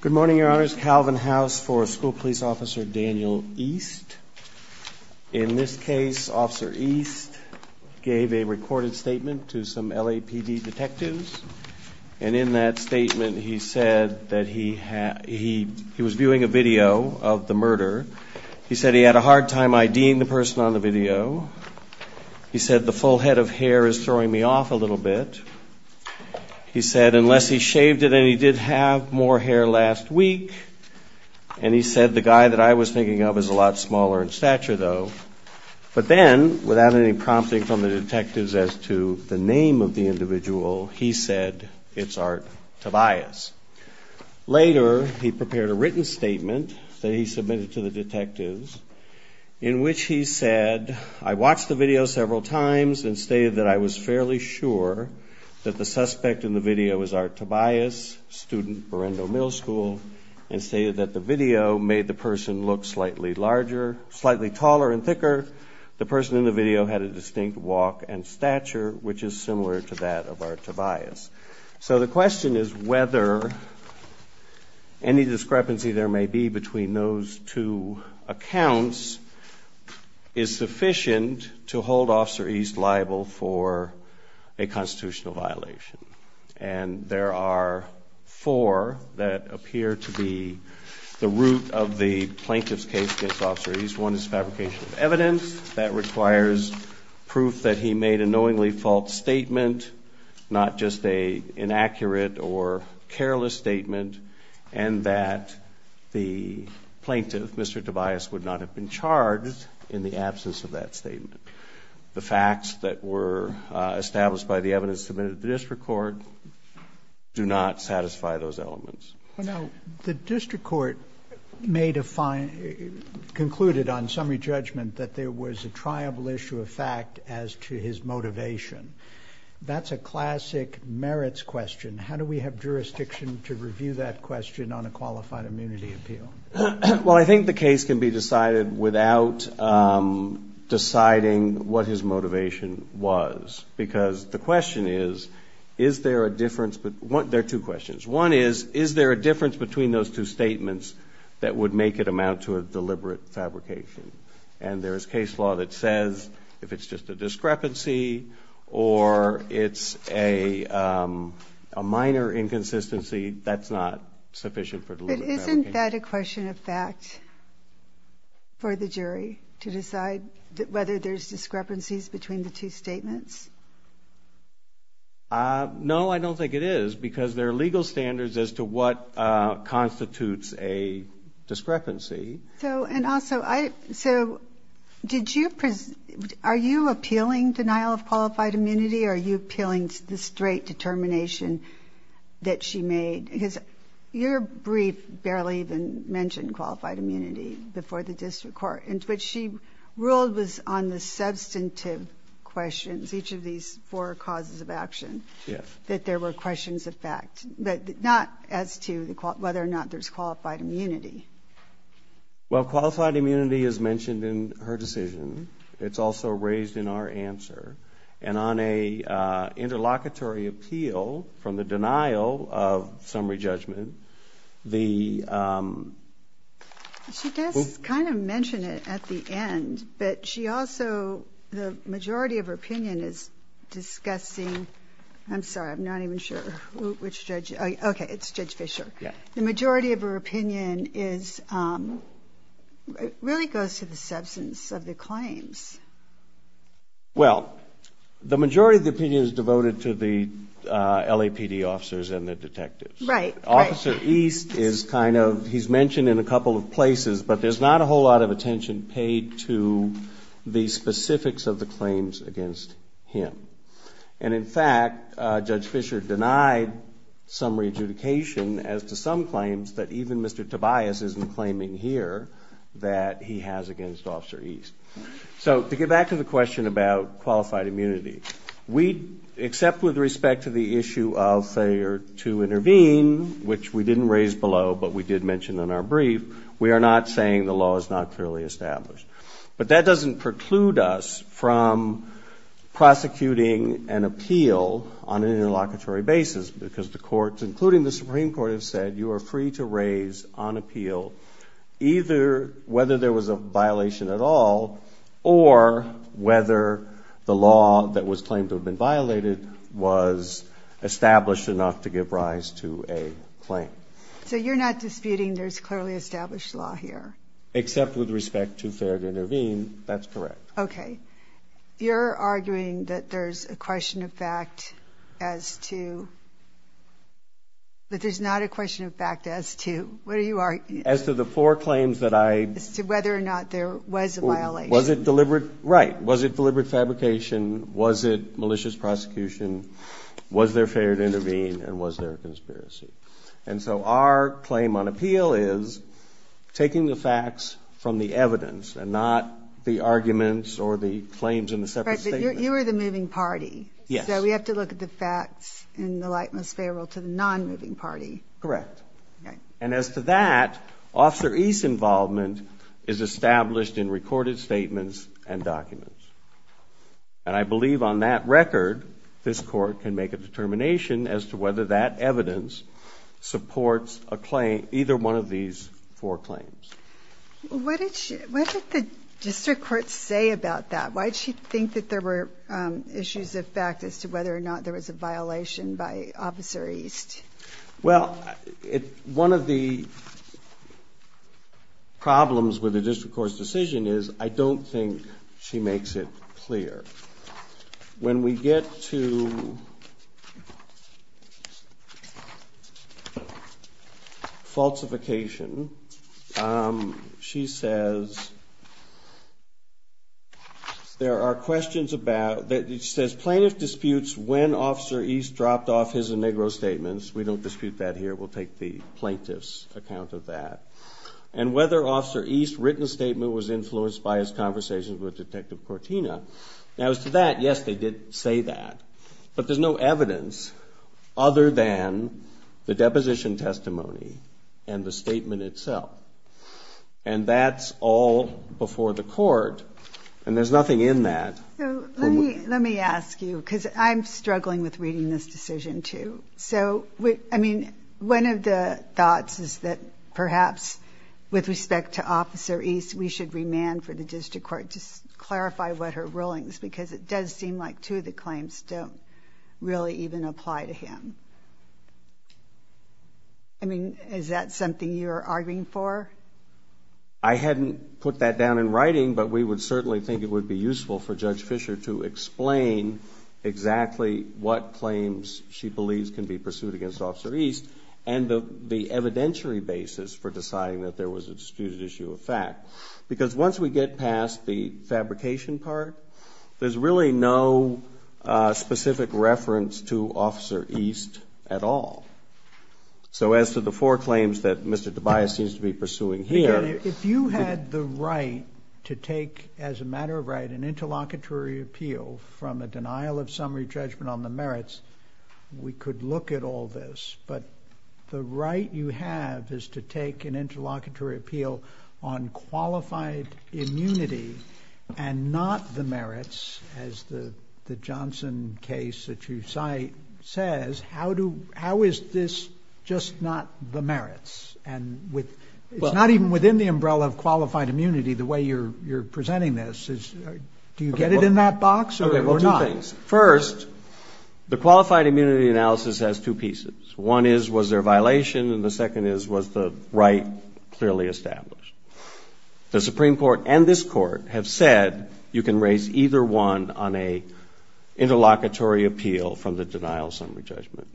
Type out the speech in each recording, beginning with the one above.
Good morning, your honors. Calvin House for School Police Officer, Daniel East. In this case, Officer East gave a recorded statement to some LAPD detectives, and in that statement, he said that he was viewing a video of the murder. He said he had a hard time IDing the person on the video. He said, the full head of hair is throwing me off a little bit. He said, unless he shaved it, and he did have more hair last week. And he said, the guy that I was thinking of is a lot smaller in stature, though. But then, without any prompting from the detectives as to the name of the individual, he said, it's Art Tobias. Later, he prepared a written statement that he submitted to the detectives, in which he said, I watched the video several times, and stated that I was fairly sure that the suspect in the video was Art Tobias, student, Barrendo Middle School, and stated that the video made the person look slightly larger, slightly taller and thicker. The person in the video had a distinct walk and stature, which is similar to that of Art Tobias. So the question is whether any discrepancy there may be between those two accounts is sufficient to hold Officer East liable for a constitutional violation. And there are four that appear to be the root of the plaintiff's case against Officer East. One is fabrication of evidence. That requires proof that he made a knowingly false statement, not just an inaccurate or careless statement, and that the plaintiff, Mr. Tobias, would not have been charged in the absence of that statement. The facts that were established by the evidence submitted to the district court do not satisfy those elements. Now, the district court made a fine concluded on summary judgment that there was a triable issue of fact as to his motivation. That's a classic merits question. How do we have jurisdiction to review that question on a qualified immunity appeal? Well, I think the case can be decided without deciding what his motivation was, because the question is, is there a difference? But there are two questions. One is, is there a difference between those two statements that would make it amount to a deliberate fabrication? And there is case law that says if it's just a discrepancy or it's a minor inconsistency, that's not sufficient for deliberate fabrication. But isn't that a question of fact for the jury to decide whether there's discrepancies between the two statements? No, I don't think it is, because there are legal standards as to what constitutes a discrepancy. So, and also, I, so, did you, are you appealing denial of qualified immunity or are you appealing the straight determination that she made? Because your brief barely even mentioned qualified immunity before the district court, and what she ruled was on the substantive questions. Each of these four causes of action, that there were questions of fact, but not as to whether or not there's qualified immunity. Well, qualified immunity is mentioned in her decision. It's also raised in our answer. And on a interlocutory appeal from the denial of summary judgment, the... is discussing, I'm sorry, I'm not even sure which judge, okay, it's Judge Fischer. Yeah. The majority of her opinion is, really goes to the substance of the claims. Well, the majority of the opinion is devoted to the LAPD officers and the detectives. Right, right. Officer East is kind of, he's mentioned in a couple of places, but there's not a whole lot of attention paid to the specifics of the claims against him. And in fact, Judge Fischer denied summary adjudication as to some claims that even Mr. Tobias isn't claiming here that he has against Officer East. So to get back to the question about qualified immunity, we, except with respect to the issue of failure to intervene, which we didn't raise below, but we did mention in our brief, we are not saying the law is not clearly established. But that doesn't preclude us from prosecuting an appeal on an interlocutory basis, because the courts, including the Supreme Court, have said you are free to raise on appeal either whether there was a violation at all or whether the law that was claimed to have been violated was established enough to give rise to a claim. So you're not disputing there's clearly established law here? Except with respect to failure to intervene, that's correct. Okay. You're arguing that there's a question of fact as to, that there's not a question of fact as to, what are you arguing? As to the four claims that I As to whether or not there was a violation. Was it deliberate? Right. Was it deliberate fabrication? Was it malicious prosecution? Was there failure to intervene? And was there a conspiracy? And so our claim on appeal is taking the facts from the evidence and not the arguments or the claims in the separate statements. Right. But you are the moving party. Yes. So we have to look at the facts in the light most favorable to the non-moving party. Correct. Okay. And as to that, Officer East's involvement is established in recorded statements and documents. And I believe on that record, this Court can make a determination as to whether that evidence supports a claim, either one of these four claims. What did she, what did the District Court say about that? Why did she think that there were issues of fact as to whether or not there was a violation by Officer East? Well, one of the problems with the District Court's decision is, I don't think she makes it clear. When we get to falsification, she says there are questions about, she says plaintiff disputes when Officer East dropped off his Inegro statements. We don't dispute that here. We'll take the plaintiff's account of that. And whether Officer East's written statement was influenced by his conversations with Detective Cortina. Now, as to that, yes, they did say that. But there's no evidence other than the deposition testimony and the statement itself. And that's all before the Court. And there's nothing in that. So let me, let me ask you, because I'm struggling with reading this decision, too. So I mean, one of the thoughts is that perhaps with respect to Officer East, we should remand for the District Court to clarify what her ruling is. Because it does seem like two of the claims don't really even apply to him. I mean, is that something you're arguing for? I hadn't put that down in writing, but we would certainly think it would be useful for Judge Fischer to explain exactly what claims she believes can be pursued against Officer East. And the evidentiary basis for deciding that there was a disputed issue of fact. Because once we get past the fabrication part, there's really no specific reference to Officer East at all. So as to the four claims that Mr. Tobias seems to be pursuing here. If you had the right to take, as a matter of right, an interlocutory appeal from a denial of summary judgment on the merits, we could look at all this. But the right you have is to take an interlocutory appeal on qualified immunity and not the merits, as the Johnson case that you cite says. How is this just not the merits? And it's not even within the umbrella of qualified immunity, the way you're presenting this. Do you get it in that box or not? Well, two things. First, the qualified immunity analysis has two pieces. One is, was there a violation? And the second is, was the right clearly established? The Supreme Court and this Court have said you can raise either one on an interlocutory appeal from the denial of summary judgment.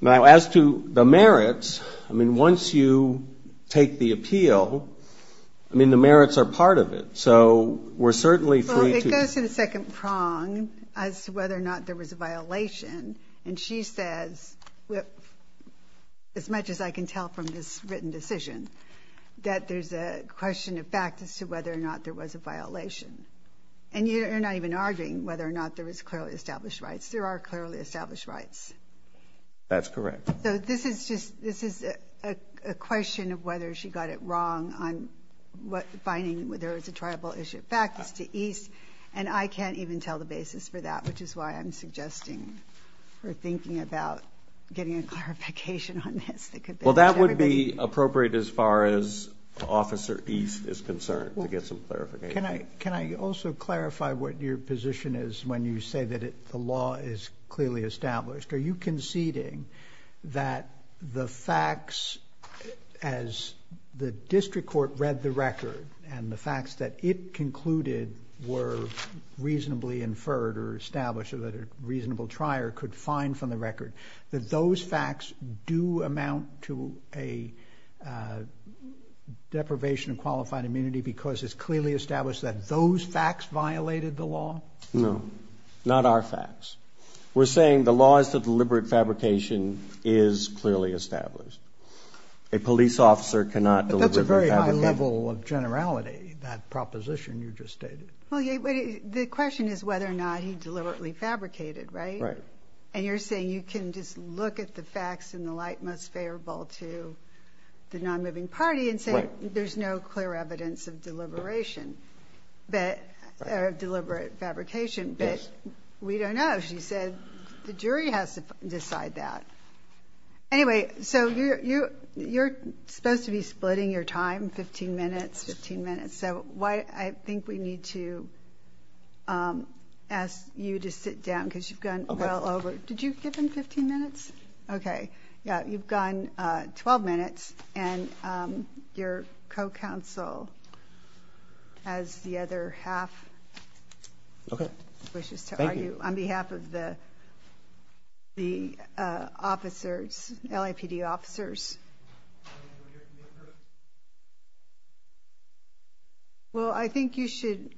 Now as to the merits, I mean, once you take the appeal, I mean, the merits are part of it. So we're certainly free to... As to whether or not there was a violation, and she says, as much as I can tell from this written decision, that there's a question of fact as to whether or not there was a violation. And you're not even arguing whether or not there was clearly established rights. There are clearly established rights. That's correct. So this is just, this is a question of whether she got it wrong on what, finding whether it's a tribal issue. In fact, it's to East. And I can't even tell the basis for that, which is why I'm suggesting or thinking about getting a clarification on this that could be... Well, that would be appropriate as far as Officer East is concerned to get some clarification. Can I also clarify what your position is when you say that the law is clearly established? Are you conceding that the facts, as the district court read the record and the facts that it concluded were reasonably inferred or established or that a reasonable trier could find from the record, that those facts do amount to a deprivation of qualified immunity because it's clearly established that those facts violated the law? No. Not our facts. We're saying the laws of deliberate fabrication is clearly established. A police officer cannot deliberately fabricate. That's a very high level of generality, that proposition you just stated. Well, the question is whether or not he deliberately fabricated, right? Right. And you're saying you can just look at the facts in the light most favorable to the non-moving party and say there's no clear evidence of deliberation, that, of deliberate fabrication. Yes. We don't know. She said the jury has to decide that. Anyway, so you're supposed to be splitting your time, 15 minutes, 15 minutes, so I think we need to ask you to sit down because you've gone well over. Did you give him 15 minutes? Okay. Yeah, you've gone 12 minutes and your co-counsel has the other half. Okay. Thank you, Your Honor. I wish to argue on behalf of the officers, LAPD officers. Well, I think you should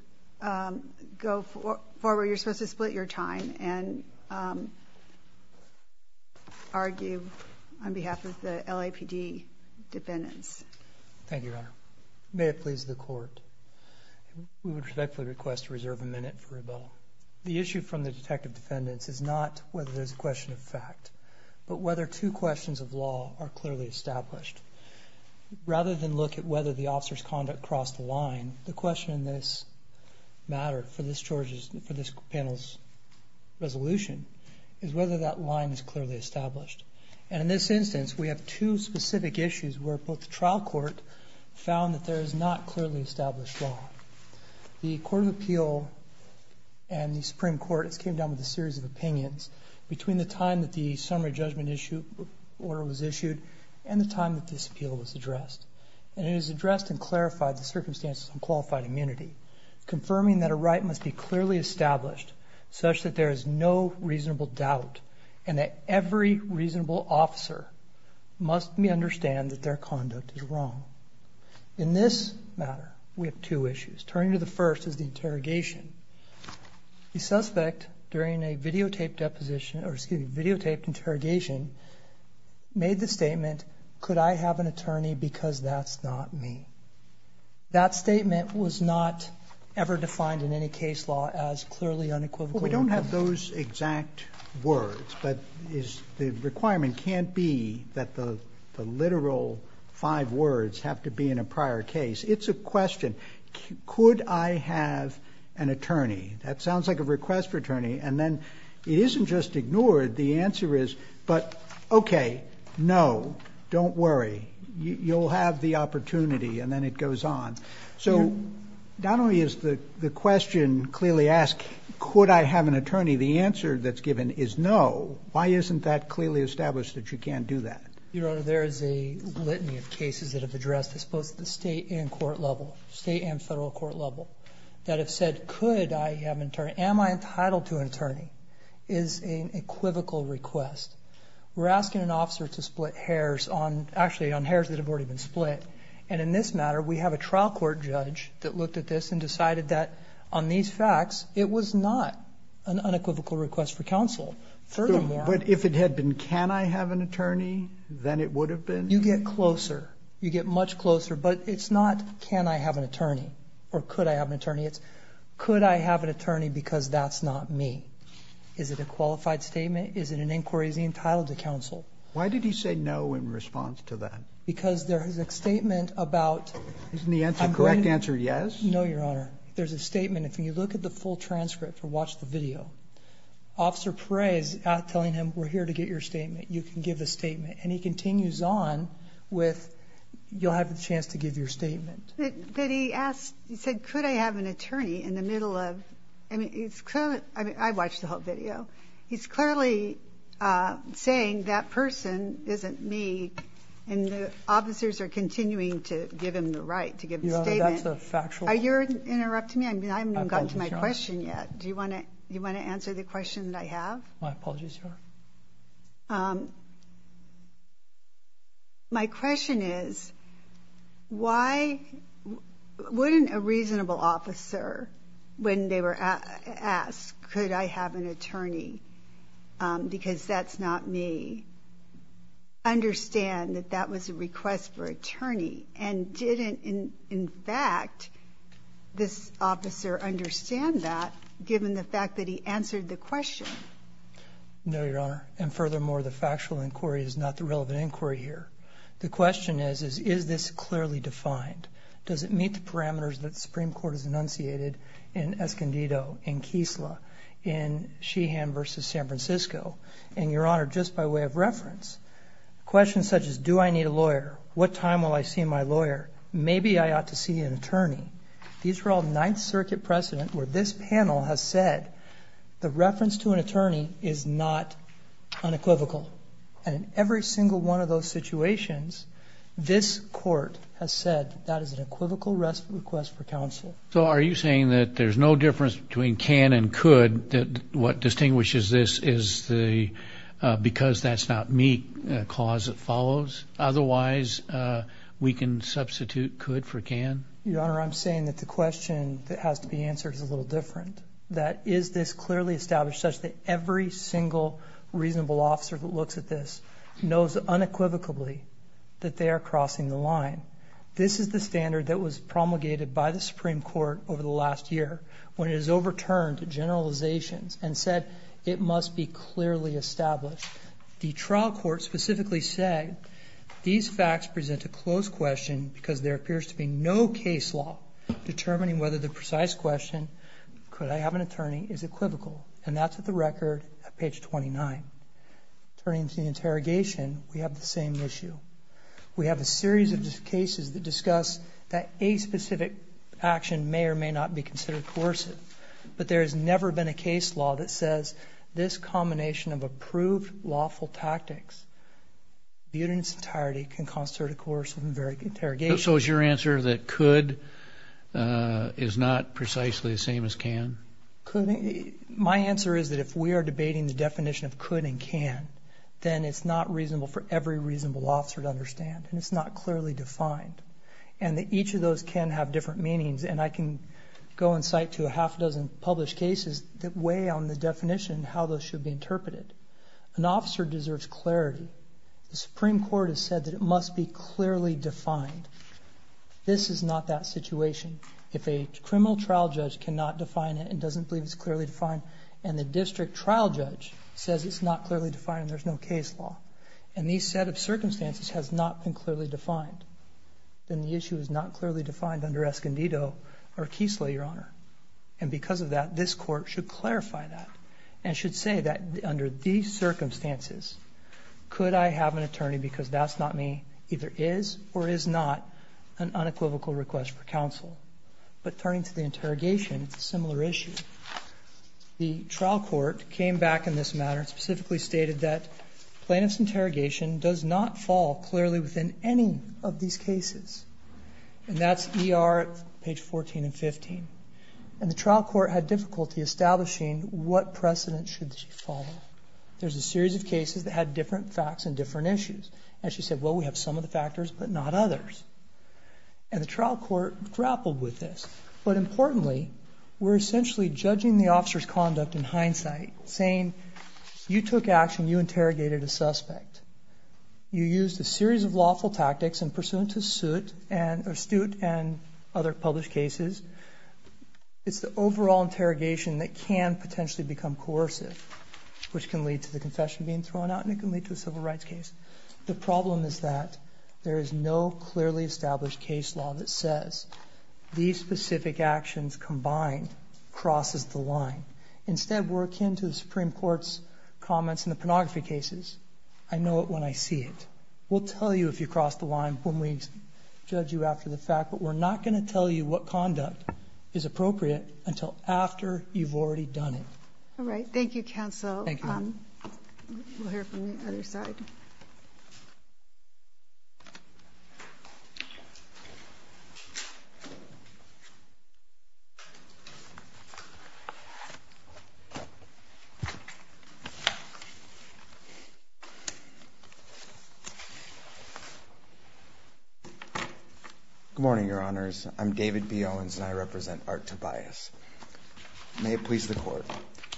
go forward, you're supposed to split your time and argue on behalf of the LAPD defendants. Thank you, Your Honor. May it please the Court, we would respectfully request to reserve a minute for rebuttal. The issue from the detective defendants is not whether there's a question of fact, but whether two questions of law are clearly established. Rather than look at whether the officer's conduct crossed the line, the question in this matter for this panel's resolution is whether that line is clearly established. And in this instance, we have two specific issues where both the trial court found that there is not clearly established law. The Court of Appeal and the Supreme Court came down with a series of opinions between the time that the summary judgment order was issued and the time that this appeal was addressed. And it was addressed and clarified the circumstances on qualified immunity, confirming that a right must be clearly established such that there is no reasonable doubt and that every reasonable officer must understand that their conduct is wrong. In this matter, we have two issues. Turning to the first is the interrogation. The suspect, during a videotaped deposition, or excuse me, videotaped interrogation, made the statement, could I have an attorney because that's not me. That statement was not ever defined in any case law as clearly unequivocal. We don't have those exact words, but the requirement can't be that the literal five words have to be in a prior case. It's a question. Could I have an attorney? That sounds like a request for attorney. And then it isn't just ignored. The answer is, but okay, no, don't worry. You'll have the opportunity. And then it goes on. So not only is the question clearly asked, could I have an attorney? The answer that's given is no. Why isn't that clearly established that you can't do that? Your Honor, there is a litany of cases that have addressed this both at the state and court level, state and federal court level, that have said, could I have an attorney? Am I entitled to an attorney is an equivocal request. We're asking an officer to split hairs on, actually on hairs that have already been split. And in this matter, we have a trial court judge that looked at this and decided that on these facts, it was not an unequivocal request for counsel. Furthermore. But if it had been, can I have an attorney, then it would have been. You get closer. You get much closer. But it's not, can I have an attorney or could I have an attorney? It's, could I have an attorney? Because that's not me. Is it a qualified statement? Is it an inquiry? Is he entitled to counsel? Why did he say no in response to that? Because there is a statement about. Isn't the correct answer yes? No, Your Honor. There's a statement. If you look at the full transcript or watch the video, Officer Paray is telling him, we're here to get your statement. You can give the statement. And he continues on with, you'll have the chance to give your statement. But he asked, he said, could I have an attorney in the middle of, I mean, it's clearly, I mean, I watched the whole video. He's clearly saying that person isn't me. And the officers are continuing to give him the right to give the statement. Your Honor, that's a factual. Are you interrupting me? I mean, I haven't even gotten to my question yet. Do you want to, you want to answer the question that I have? My apologies, Your Honor. My question is, why, wouldn't a reasonable officer, when they were asked, could I have an attorney, because that's not me, understand that that was a request for attorney, and didn't, in fact, this officer understand that, given the fact that he answered the question? No, Your Honor. And furthermore, the factual inquiry is not the relevant inquiry here. The question is, is this clearly defined? Does it meet the parameters that the Supreme Court has enunciated in Escondido, in Kisla, in Sheehan versus San Francisco? And Your Honor, just by way of reference, questions such as, do I need a lawyer? What time will I see my lawyer? Maybe I ought to see an attorney. These are all Ninth Circuit precedent where this panel has said, the reference to an attorney is not unequivocal. And in every single one of those situations, this court has said that is an equivocal request for counsel. So are you saying that there's no difference between can and could, that what distinguishes this is the, because that's not me, clause that follows, otherwise we can substitute could for can? Your Honor, I'm saying that the question that has to be answered is a little different, that is this clearly established such that every single reasonable officer that looks at this knows unequivocally that they are crossing the line. This is the standard that was promulgated by the Supreme Court over the last year when it was overturned to generalizations and said it must be clearly established. The trial court specifically said these facts present a closed question because there appears to be no case law determining whether the precise question, could I have an attorney, is equivocal. And that's at the record at page 29. Turning to the interrogation, we have the same issue. We have a series of cases that discuss that a specific action may or may not be considered coercive. But there has never been a case law that says this combination of approved lawful tactics viewed in its entirety can constitute a coercive interrogation. So is your answer that could is not precisely the same as can? Could, my answer is that if we are debating the definition of could and can, then it's not reasonable for every reasonable officer to understand. And it's not clearly defined. And that each of those can have different meanings. And I can go in sight to a half dozen published cases that weigh on the definition, how those should be interpreted. An officer deserves clarity. The Supreme Court has said that it must be clearly defined. This is not that situation. If a criminal trial judge cannot define it and doesn't believe it's clearly defined, and the district trial judge says it's not clearly defined and there's no case law. And these set of circumstances has not been clearly defined. Then the issue is not clearly defined under Escondido or Keesler, Your Honor. And because of that, this court should clarify that and should say that under these circumstances, could I have an attorney because that's not me, either is or is not an unequivocal request for counsel. But turning to the interrogation, it's a similar issue. The trial court came back in this matter and specifically stated that plaintiff's interrogation does not fall clearly within any of these cases. And that's ER page 14 and 15. And the trial court had difficulty establishing what precedent should she follow. There's a series of cases that had different facts and different issues. And she said, well, we have some of the factors, but not others. And the trial court grappled with this. But importantly, we're essentially judging the officer's conduct in hindsight, saying, you took action, you interrogated a suspect. You used a series of lawful tactics and pursuant to suit and, astute and other published cases, it's the overall interrogation that can potentially become coercive, which can lead to the confession being thrown out and can lead to a civil rights case. The problem is that there is no clearly established case law that says these specific actions combined crosses the line. Instead, we're akin to the Supreme Court's comments in the pornography cases. I know it when I see it. We'll tell you if you cross the line when we judge you after the fact. But we're not going to tell you what conduct is appropriate until after you've already done it. All right, thank you, counsel. Thank you. We'll hear from the other side. Good morning, your honors. I'm David B. Owens, and I represent Art Tobias. May it please the court.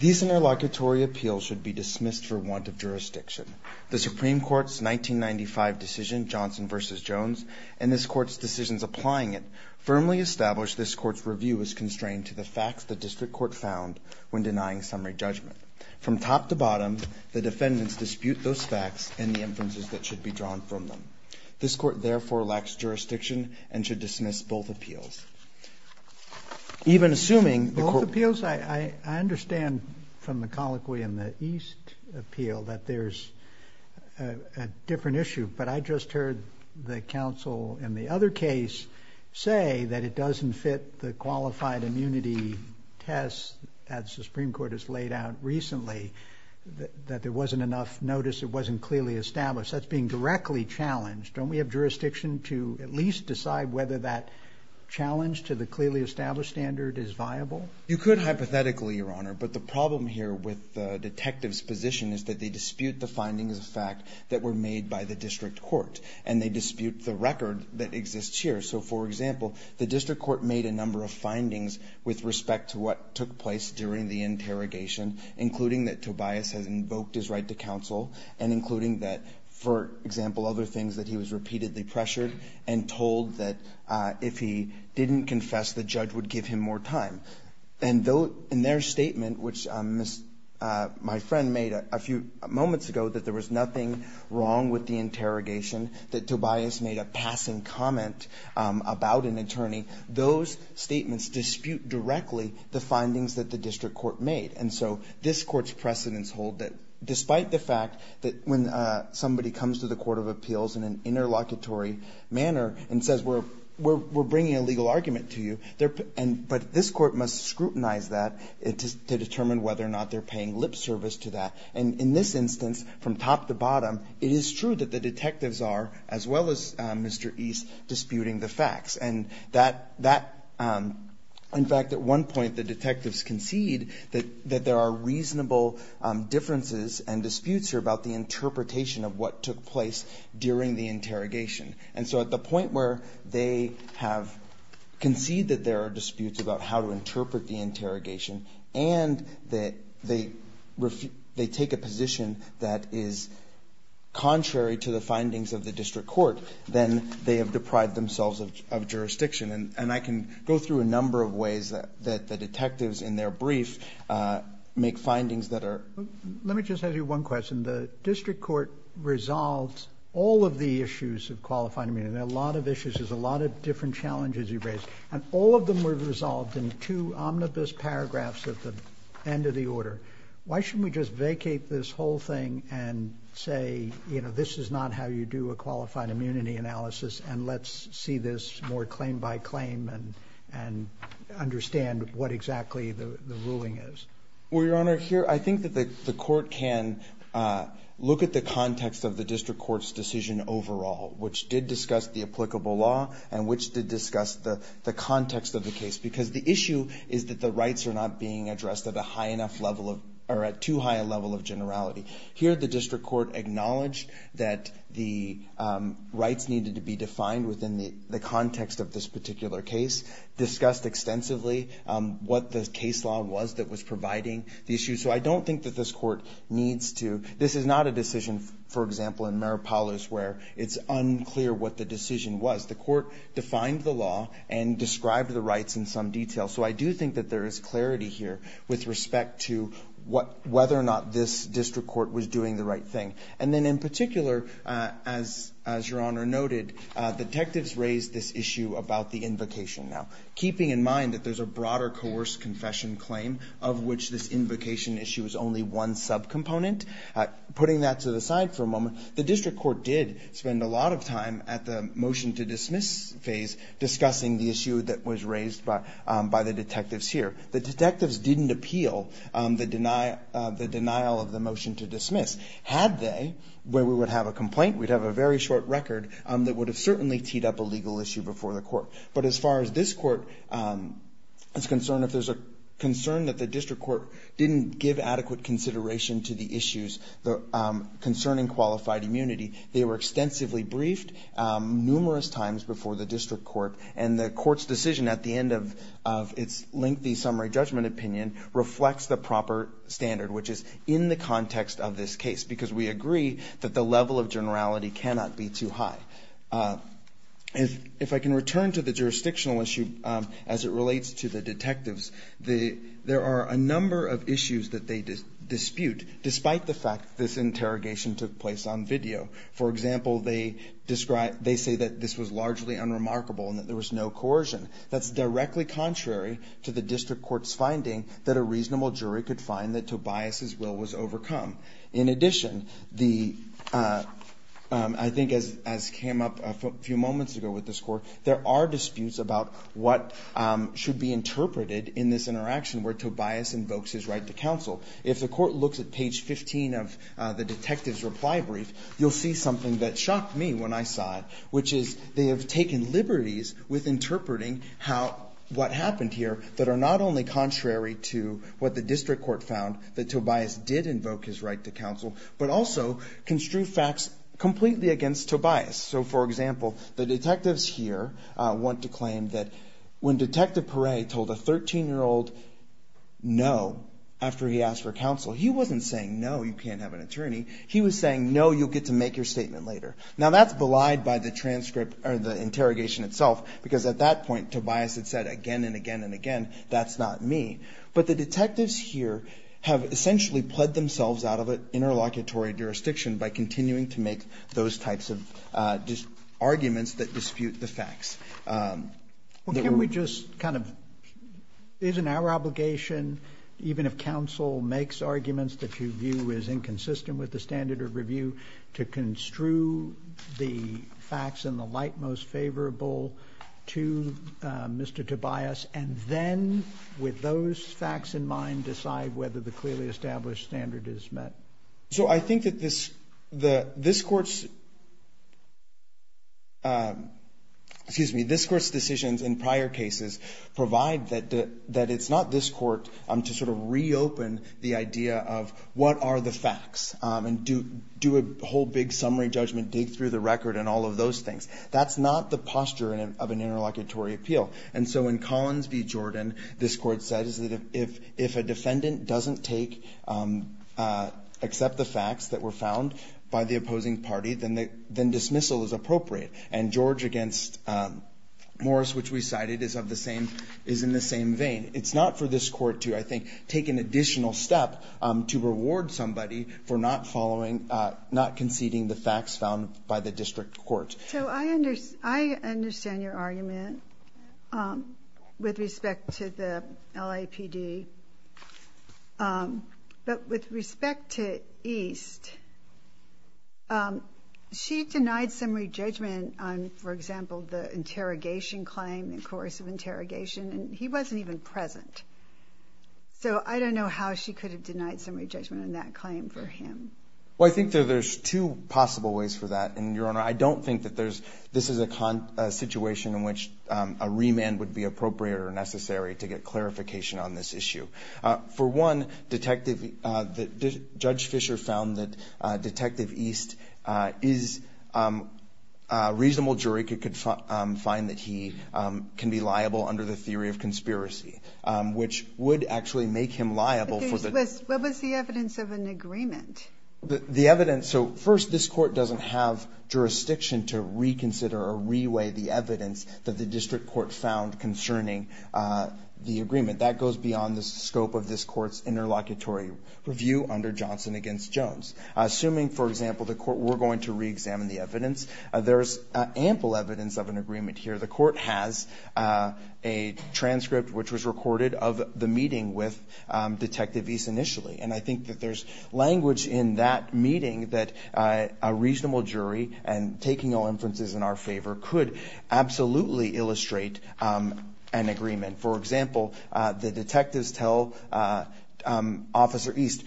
These interlocutory appeals should be dismissed for want of jurisdiction. The Supreme Court's 1995 decision, Johnson versus Jones, and this court's decisions applying it, firmly established this court's review is constrained to the facts the district court found when denying summary judgment. From top to bottom, the defendants dispute those facts and the inferences that should be drawn from them. This court therefore lacks jurisdiction and should dismiss both appeals. Even assuming the court- Both appeals, I understand from the Colloquy and the East appeal that there's a different issue. But I just heard the counsel in the other case say that it doesn't fit the qualified immunity test as the Supreme Court has laid out recently. That there wasn't enough notice, it wasn't clearly established. That's being directly challenged. Don't we have jurisdiction to at least decide whether that challenge to the clearly established standard is viable? You could hypothetically, your honor. But the problem here with the detective's position is that they dispute the findings of fact that were made by the district court. And they dispute the record that exists here. So for example, the district court made a number of findings with respect to what took place during the interrogation, including that Tobias has invoked his right to counsel. And including that, for example, other things that he was repeatedly pressured. And told that if he didn't confess, the judge would give him more time. And in their statement, which my friend made a few moments ago, that there was nothing wrong with the interrogation. That Tobias made a passing comment about an attorney. Those statements dispute directly the findings that the district court made. And so, this court's precedents hold that despite the fact that when somebody comes to the court of appeals in an interlocutory manner and says we're bringing a legal argument to you. But this court must scrutinize that to determine whether or not they're paying lip service to that. And in this instance, from top to bottom, it is true that the detectives are, as well as Mr. East, disputing the facts. And in fact, at one point the detectives concede that there are reasonable differences and disputes here about the interpretation of what took place during the interrogation. And so at the point where they have conceded that there are disputes about how to interpret the interrogation and that they take a position that is contrary to the findings of the district court. Then they have deprived themselves of jurisdiction. And I can go through a number of ways that the detectives in their brief make findings that are- Let me just ask you one question. The district court resolved all of the issues of qualified immunity. There are a lot of issues. There's a lot of different challenges you've raised. And all of them were resolved in two omnibus paragraphs at the end of the order. Why shouldn't we just vacate this whole thing and say this is not how you do a qualified immunity analysis and let's see this more claim by claim and understand what exactly the ruling is? Well, Your Honor, I think that the court can look at the context of the district court's decision overall, which did discuss the applicable law and which did discuss the context of the case. Because the issue is that the rights are not being addressed at a high enough level or at too high a level of generality. Here the district court acknowledged that the rights needed to be defined within the context of this particular case, discussed extensively what the case law was that was providing the issue. So I don't think that this court needs to, this is not a decision, for example, in Maripolis where it's unclear what the decision was. The court defined the law and described the rights in some detail. So I do think that there is clarity here with respect to whether or not this district court was doing the right thing. And then in particular, as Your Honor noted, detectives raised this issue about the invocation now. Keeping in mind that there's a broader coerced confession claim of which this invocation issue is only one subcomponent. Putting that to the side for a moment, the district court did spend a lot of time at the motion to dismiss phase discussing the issue that was raised by the detectives here. The detectives didn't appeal the denial of the motion to dismiss. Had they, where we would have a complaint, we'd have a very short record that would have certainly teed up a legal issue before the court. But as far as this court is concerned, if there's a concern that the district court didn't give adequate consideration to the issues concerning qualified immunity, they were extensively briefed numerous times before the district court. And the court's decision at the end of its lengthy summary judgment opinion reflects the proper standard, which is in the context of this case. Because we agree that the level of generality cannot be too high. If I can return to the jurisdictional issue as it relates to the detectives. There are a number of issues that they dispute, despite the fact this interrogation took place on video. For example, they describe, they say that this was largely unremarkable and that there was no coercion. That's directly contrary to the district court's finding that a reasonable jury could find that Tobias' will was overcome. In addition, I think as came up a few moments ago with this court, there are disputes about what should be interpreted in this interaction where Tobias invokes his right to counsel. If the court looks at page 15 of the detective's reply brief, you'll see something that shocked me when I saw it. Which is, they have taken liberties with interpreting what happened here that are not only contrary to what the district court found, that Tobias did invoke his right to counsel. But also, construe facts completely against Tobias. So for example, the detectives here want to claim that when Detective Perret told a 13-year-old no after he asked for counsel, he wasn't saying no, you can't have an attorney. He was saying no, you'll get to make your statement later. Now that's belied by the transcript, or the interrogation itself. Because at that point, Tobias had said again, and again, and again, that's not me. But the detectives here have essentially pled themselves out of an interlocutory jurisdiction by continuing to make those types of arguments that dispute the facts. Well, can we just kind of, isn't our obligation, even if counsel makes arguments that you view is inconsistent with the standard of the facts and the light most favorable to Mr. Tobias. And then, with those facts in mind, decide whether the clearly established standard is met. So I think that this court's, excuse me, this court's decisions in prior cases provide that it's not this court that's going to take the facts and do a whole big summary judgment, dig through the record, and all of those things. That's not the posture of an interlocutory appeal. And so in Collins v. Jordan, this court says that if a defendant doesn't accept the facts that were found by the opposing party, then dismissal is appropriate. And George against Morris, which we cited, is in the same vein. It's not for this court to, I think, take an additional step to reward somebody for not conceding the facts found by the district court. So I understand your argument with respect to the LAPD. But with respect to East, she denied summary judgment on, for example, the interrogation claim, the course of interrogation, and he wasn't even present. So I don't know how she could have denied summary judgment on that claim for him. Well, I think that there's two possible ways for that. And, Your Honor, I don't think that this is a situation in which a remand would be appropriate or necessary to get clarification on this issue. For one, Judge Fisher found that Detective East is a reasonable jury. He could find that he can be liable under the theory of conspiracy. Which would actually make him liable for the- What was the evidence of an agreement? The evidence, so first, this court doesn't have jurisdiction to reconsider or re-weigh the evidence that the district court found concerning the agreement. That goes beyond the scope of this court's interlocutory review under Johnson against Jones. Assuming, for example, the court were going to re-examine the evidence, there's ample evidence of an agreement here. The court has a transcript which was recorded of the meeting with Detective East initially. And I think that there's language in that meeting that a reasonable jury and taking all inferences in our favor could absolutely illustrate an agreement. For example, the detectives tell Officer East,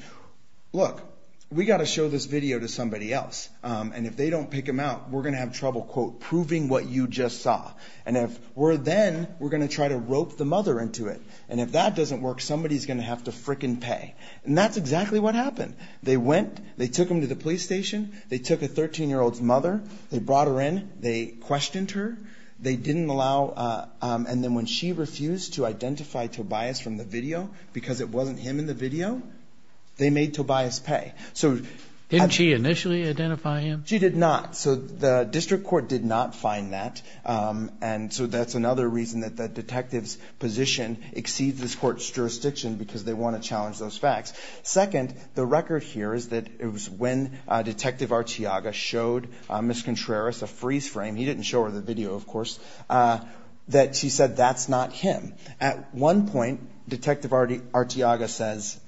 look, we gotta show this video to somebody else. And if they don't pick him out, we're gonna have trouble, quote, proving what you just saw. And if we're then, we're gonna try to rope the mother into it. And if that doesn't work, somebody's gonna have to frickin' pay. And that's exactly what happened. They went, they took him to the police station. They took a 13-year-old's mother. They brought her in. They questioned her. They didn't allow, and then when she refused to identify Tobias from the video, because it wasn't him in the video, they made Tobias pay. So- Didn't she initially identify him? She did not. The district court did not find that. And so that's another reason that the detective's position exceeds this court's jurisdiction because they want to challenge those facts. Second, the record here is that it was when Detective Arteaga showed Ms. Contreras a freeze frame, he didn't show her the video of course, that she said that's not him. At one point, Detective Arteaga says,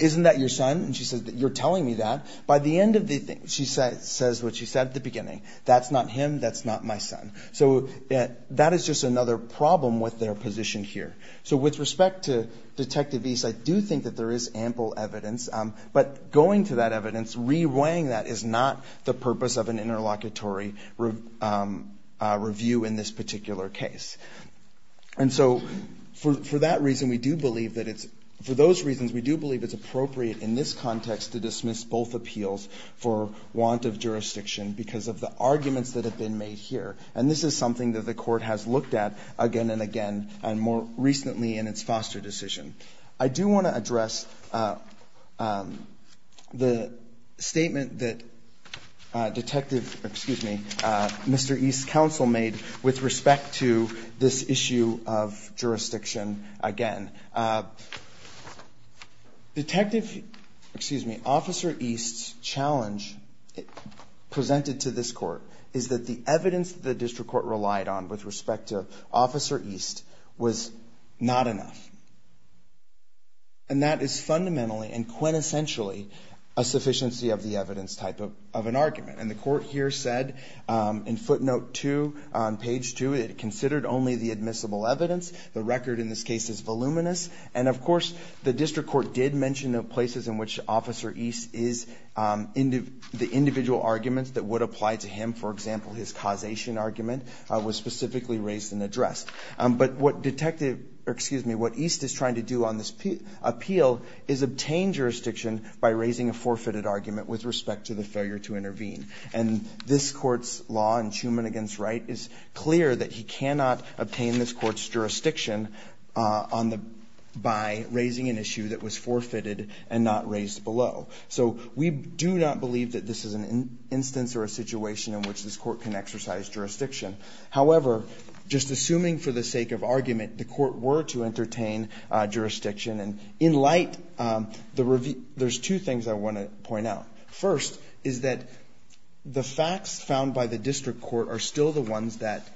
isn't that your son? And she says, you're telling me that. By the end of the thing, she says what she said at the beginning. That's not him, that's not my son. So that is just another problem with their position here. So with respect to Detective East, I do think that there is ample evidence. But going to that evidence, reweighing that is not the purpose of an interlocutory review in this particular case. And so for that reason, we do believe that it's, for those reasons, we do believe it's appropriate in this context to dismiss both appeals for want of jurisdiction because of the arguments that have been made here. And this is something that the court has looked at again and again, and more recently in its foster decision. I do want to address the statement that Detective, excuse me, Mr. East's counsel made with respect to this issue of jurisdiction again, Detective, excuse me, Officer East's challenge presented to this court is that the evidence the district court relied on with respect to Officer East was not enough. And that is fundamentally and quintessentially a sufficiency of the evidence type of an argument. And the court here said in footnote two on page two, it considered only the admissible evidence. The record in this case is voluminous. And of course, the district court did mention the places in which Officer East is, the individual arguments that would apply to him, for example, his causation argument, was specifically raised and addressed. But what Detective, or excuse me, what East is trying to do on this appeal is obtain jurisdiction by raising a forfeited argument with respect to the failure to intervene. And this court's law in Schuman v. Wright is clear that he cannot obtain this court's jurisdiction by raising an issue that was forfeited and not raised below. So we do not believe that this is an instance or a situation in which this court can exercise jurisdiction. However, just assuming for the sake of argument, the court were to entertain jurisdiction. And in light, there's two things I want to point out. First, is that the facts found by the district court are still the ones that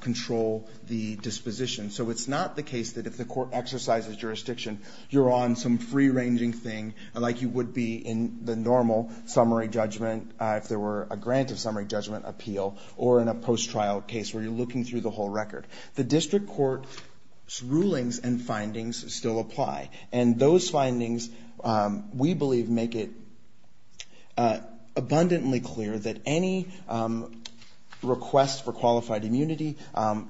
control the disposition. So it's not the case that if the court exercises jurisdiction, you're on some free ranging thing, like you would be in the normal summary judgment, if there were a grant of summary judgment appeal, or in a post trial case where you're looking through the whole record. The district court's rulings and findings still apply. And those findings, we believe, make it abundantly clear that any request for qualified immunity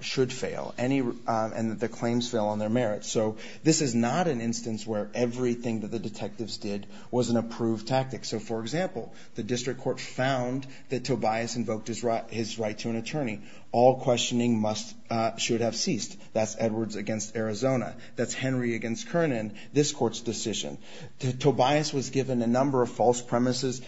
should fail, and the claims fail on their merit. So this is not an instance where everything that the detectives did was an approved tactic. So for example, the district court found that Tobias invoked his right to an attorney. All questioning should have ceased. That's Edwards against Arizona. That's Henry against Kernan, this court's decision. Tobias was given a number of false promises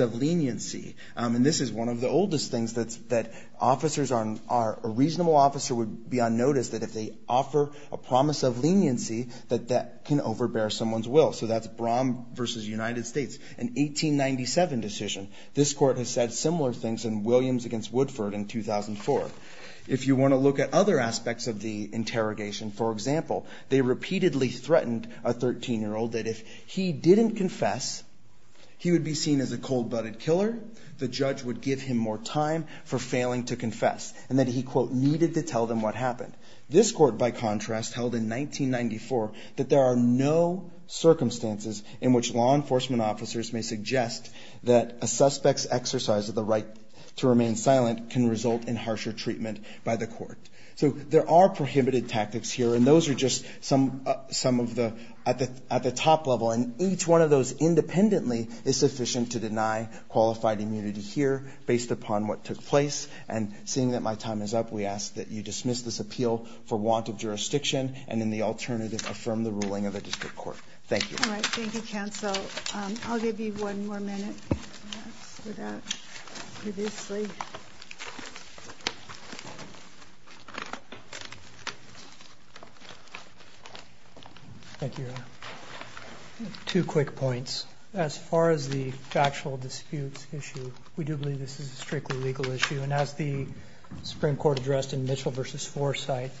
of leniency. And this is one of the oldest things that a reasonable officer would be on notice, that if they offer a promise of leniency, that that can overbear someone's will. So that's Brown versus United States, an 1897 decision. This court has said similar things in Williams against Woodford in 2004. If you want to look at other aspects of the interrogation, for example, they repeatedly threatened a 13-year-old that if he didn't confess, he would be seen as a cold-blooded killer, the judge would give him more time for failing to confess. And that he, quote, needed to tell them what happened. This court, by contrast, held in 1994 that there are no circumstances in which law enforcement officers may suggest that a suspect's exercise of the right to remain silent can result in harsher treatment by the court. So there are prohibited tactics here, and those are just some at the top level. And each one of those independently is sufficient to deny qualified immunity here, based upon what took place. And seeing that my time is up, we ask that you dismiss this appeal for want of jurisdiction, and in the alternative, affirm the ruling of the district court. Thank you. All right, thank you, counsel. I'll give you one more minute. I've seen that previously. Thank you. Two quick points. As far as the factual disputes issue, we do believe this is a strictly legal issue. And as the Supreme Court addressed in Mitchell versus Forsyth,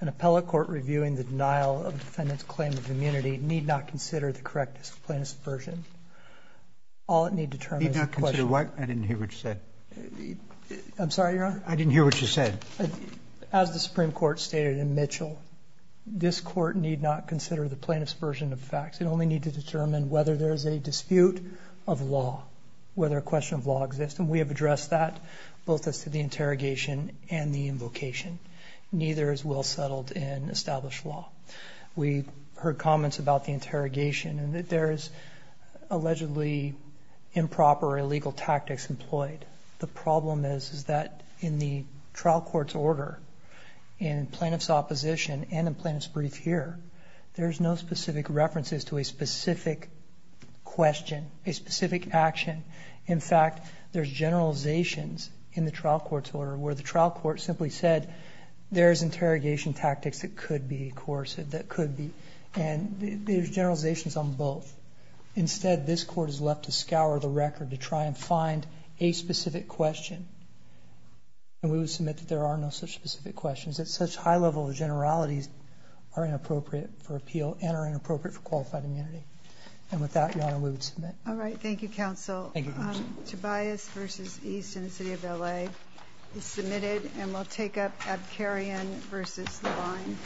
an appellate court reviewing the denial of defendant's claim of immunity need not consider the correctness of plaintiff's version. All it need determine is the question. Need not consider what? I didn't hear what you said. I'm sorry, Your Honor? I didn't hear what you said. As the Supreme Court stated in Mitchell, this court need not consider the plaintiff's version of facts. It only need to determine whether there's a dispute of law, whether a question of law exists. And we have addressed that, both as to the interrogation and the invocation. Neither is well settled in established law. We heard comments about the interrogation and that there is allegedly improper or illegal tactics employed. The problem is that in the trial court's order, in plaintiff's opposition and in plaintiff's brief here, there's no specific references to a specific question, a specific action. In fact, there's generalizations in the trial court's order where the trial court simply said there's interrogation tactics that could be coercive, that could be. And there's generalizations on both. Instead, this court is left to scour the record to try and find a specific question. And we will submit that there are no such specific questions. That such high level of generalities are inappropriate for appeal and are inappropriate for qualified immunity. And with that, Your Honor, we would submit. All right, thank you, counsel. Thank you, counsel. Ayes versus ayes in the city of LA is submitted, and we'll take up Abkarian versus Levine.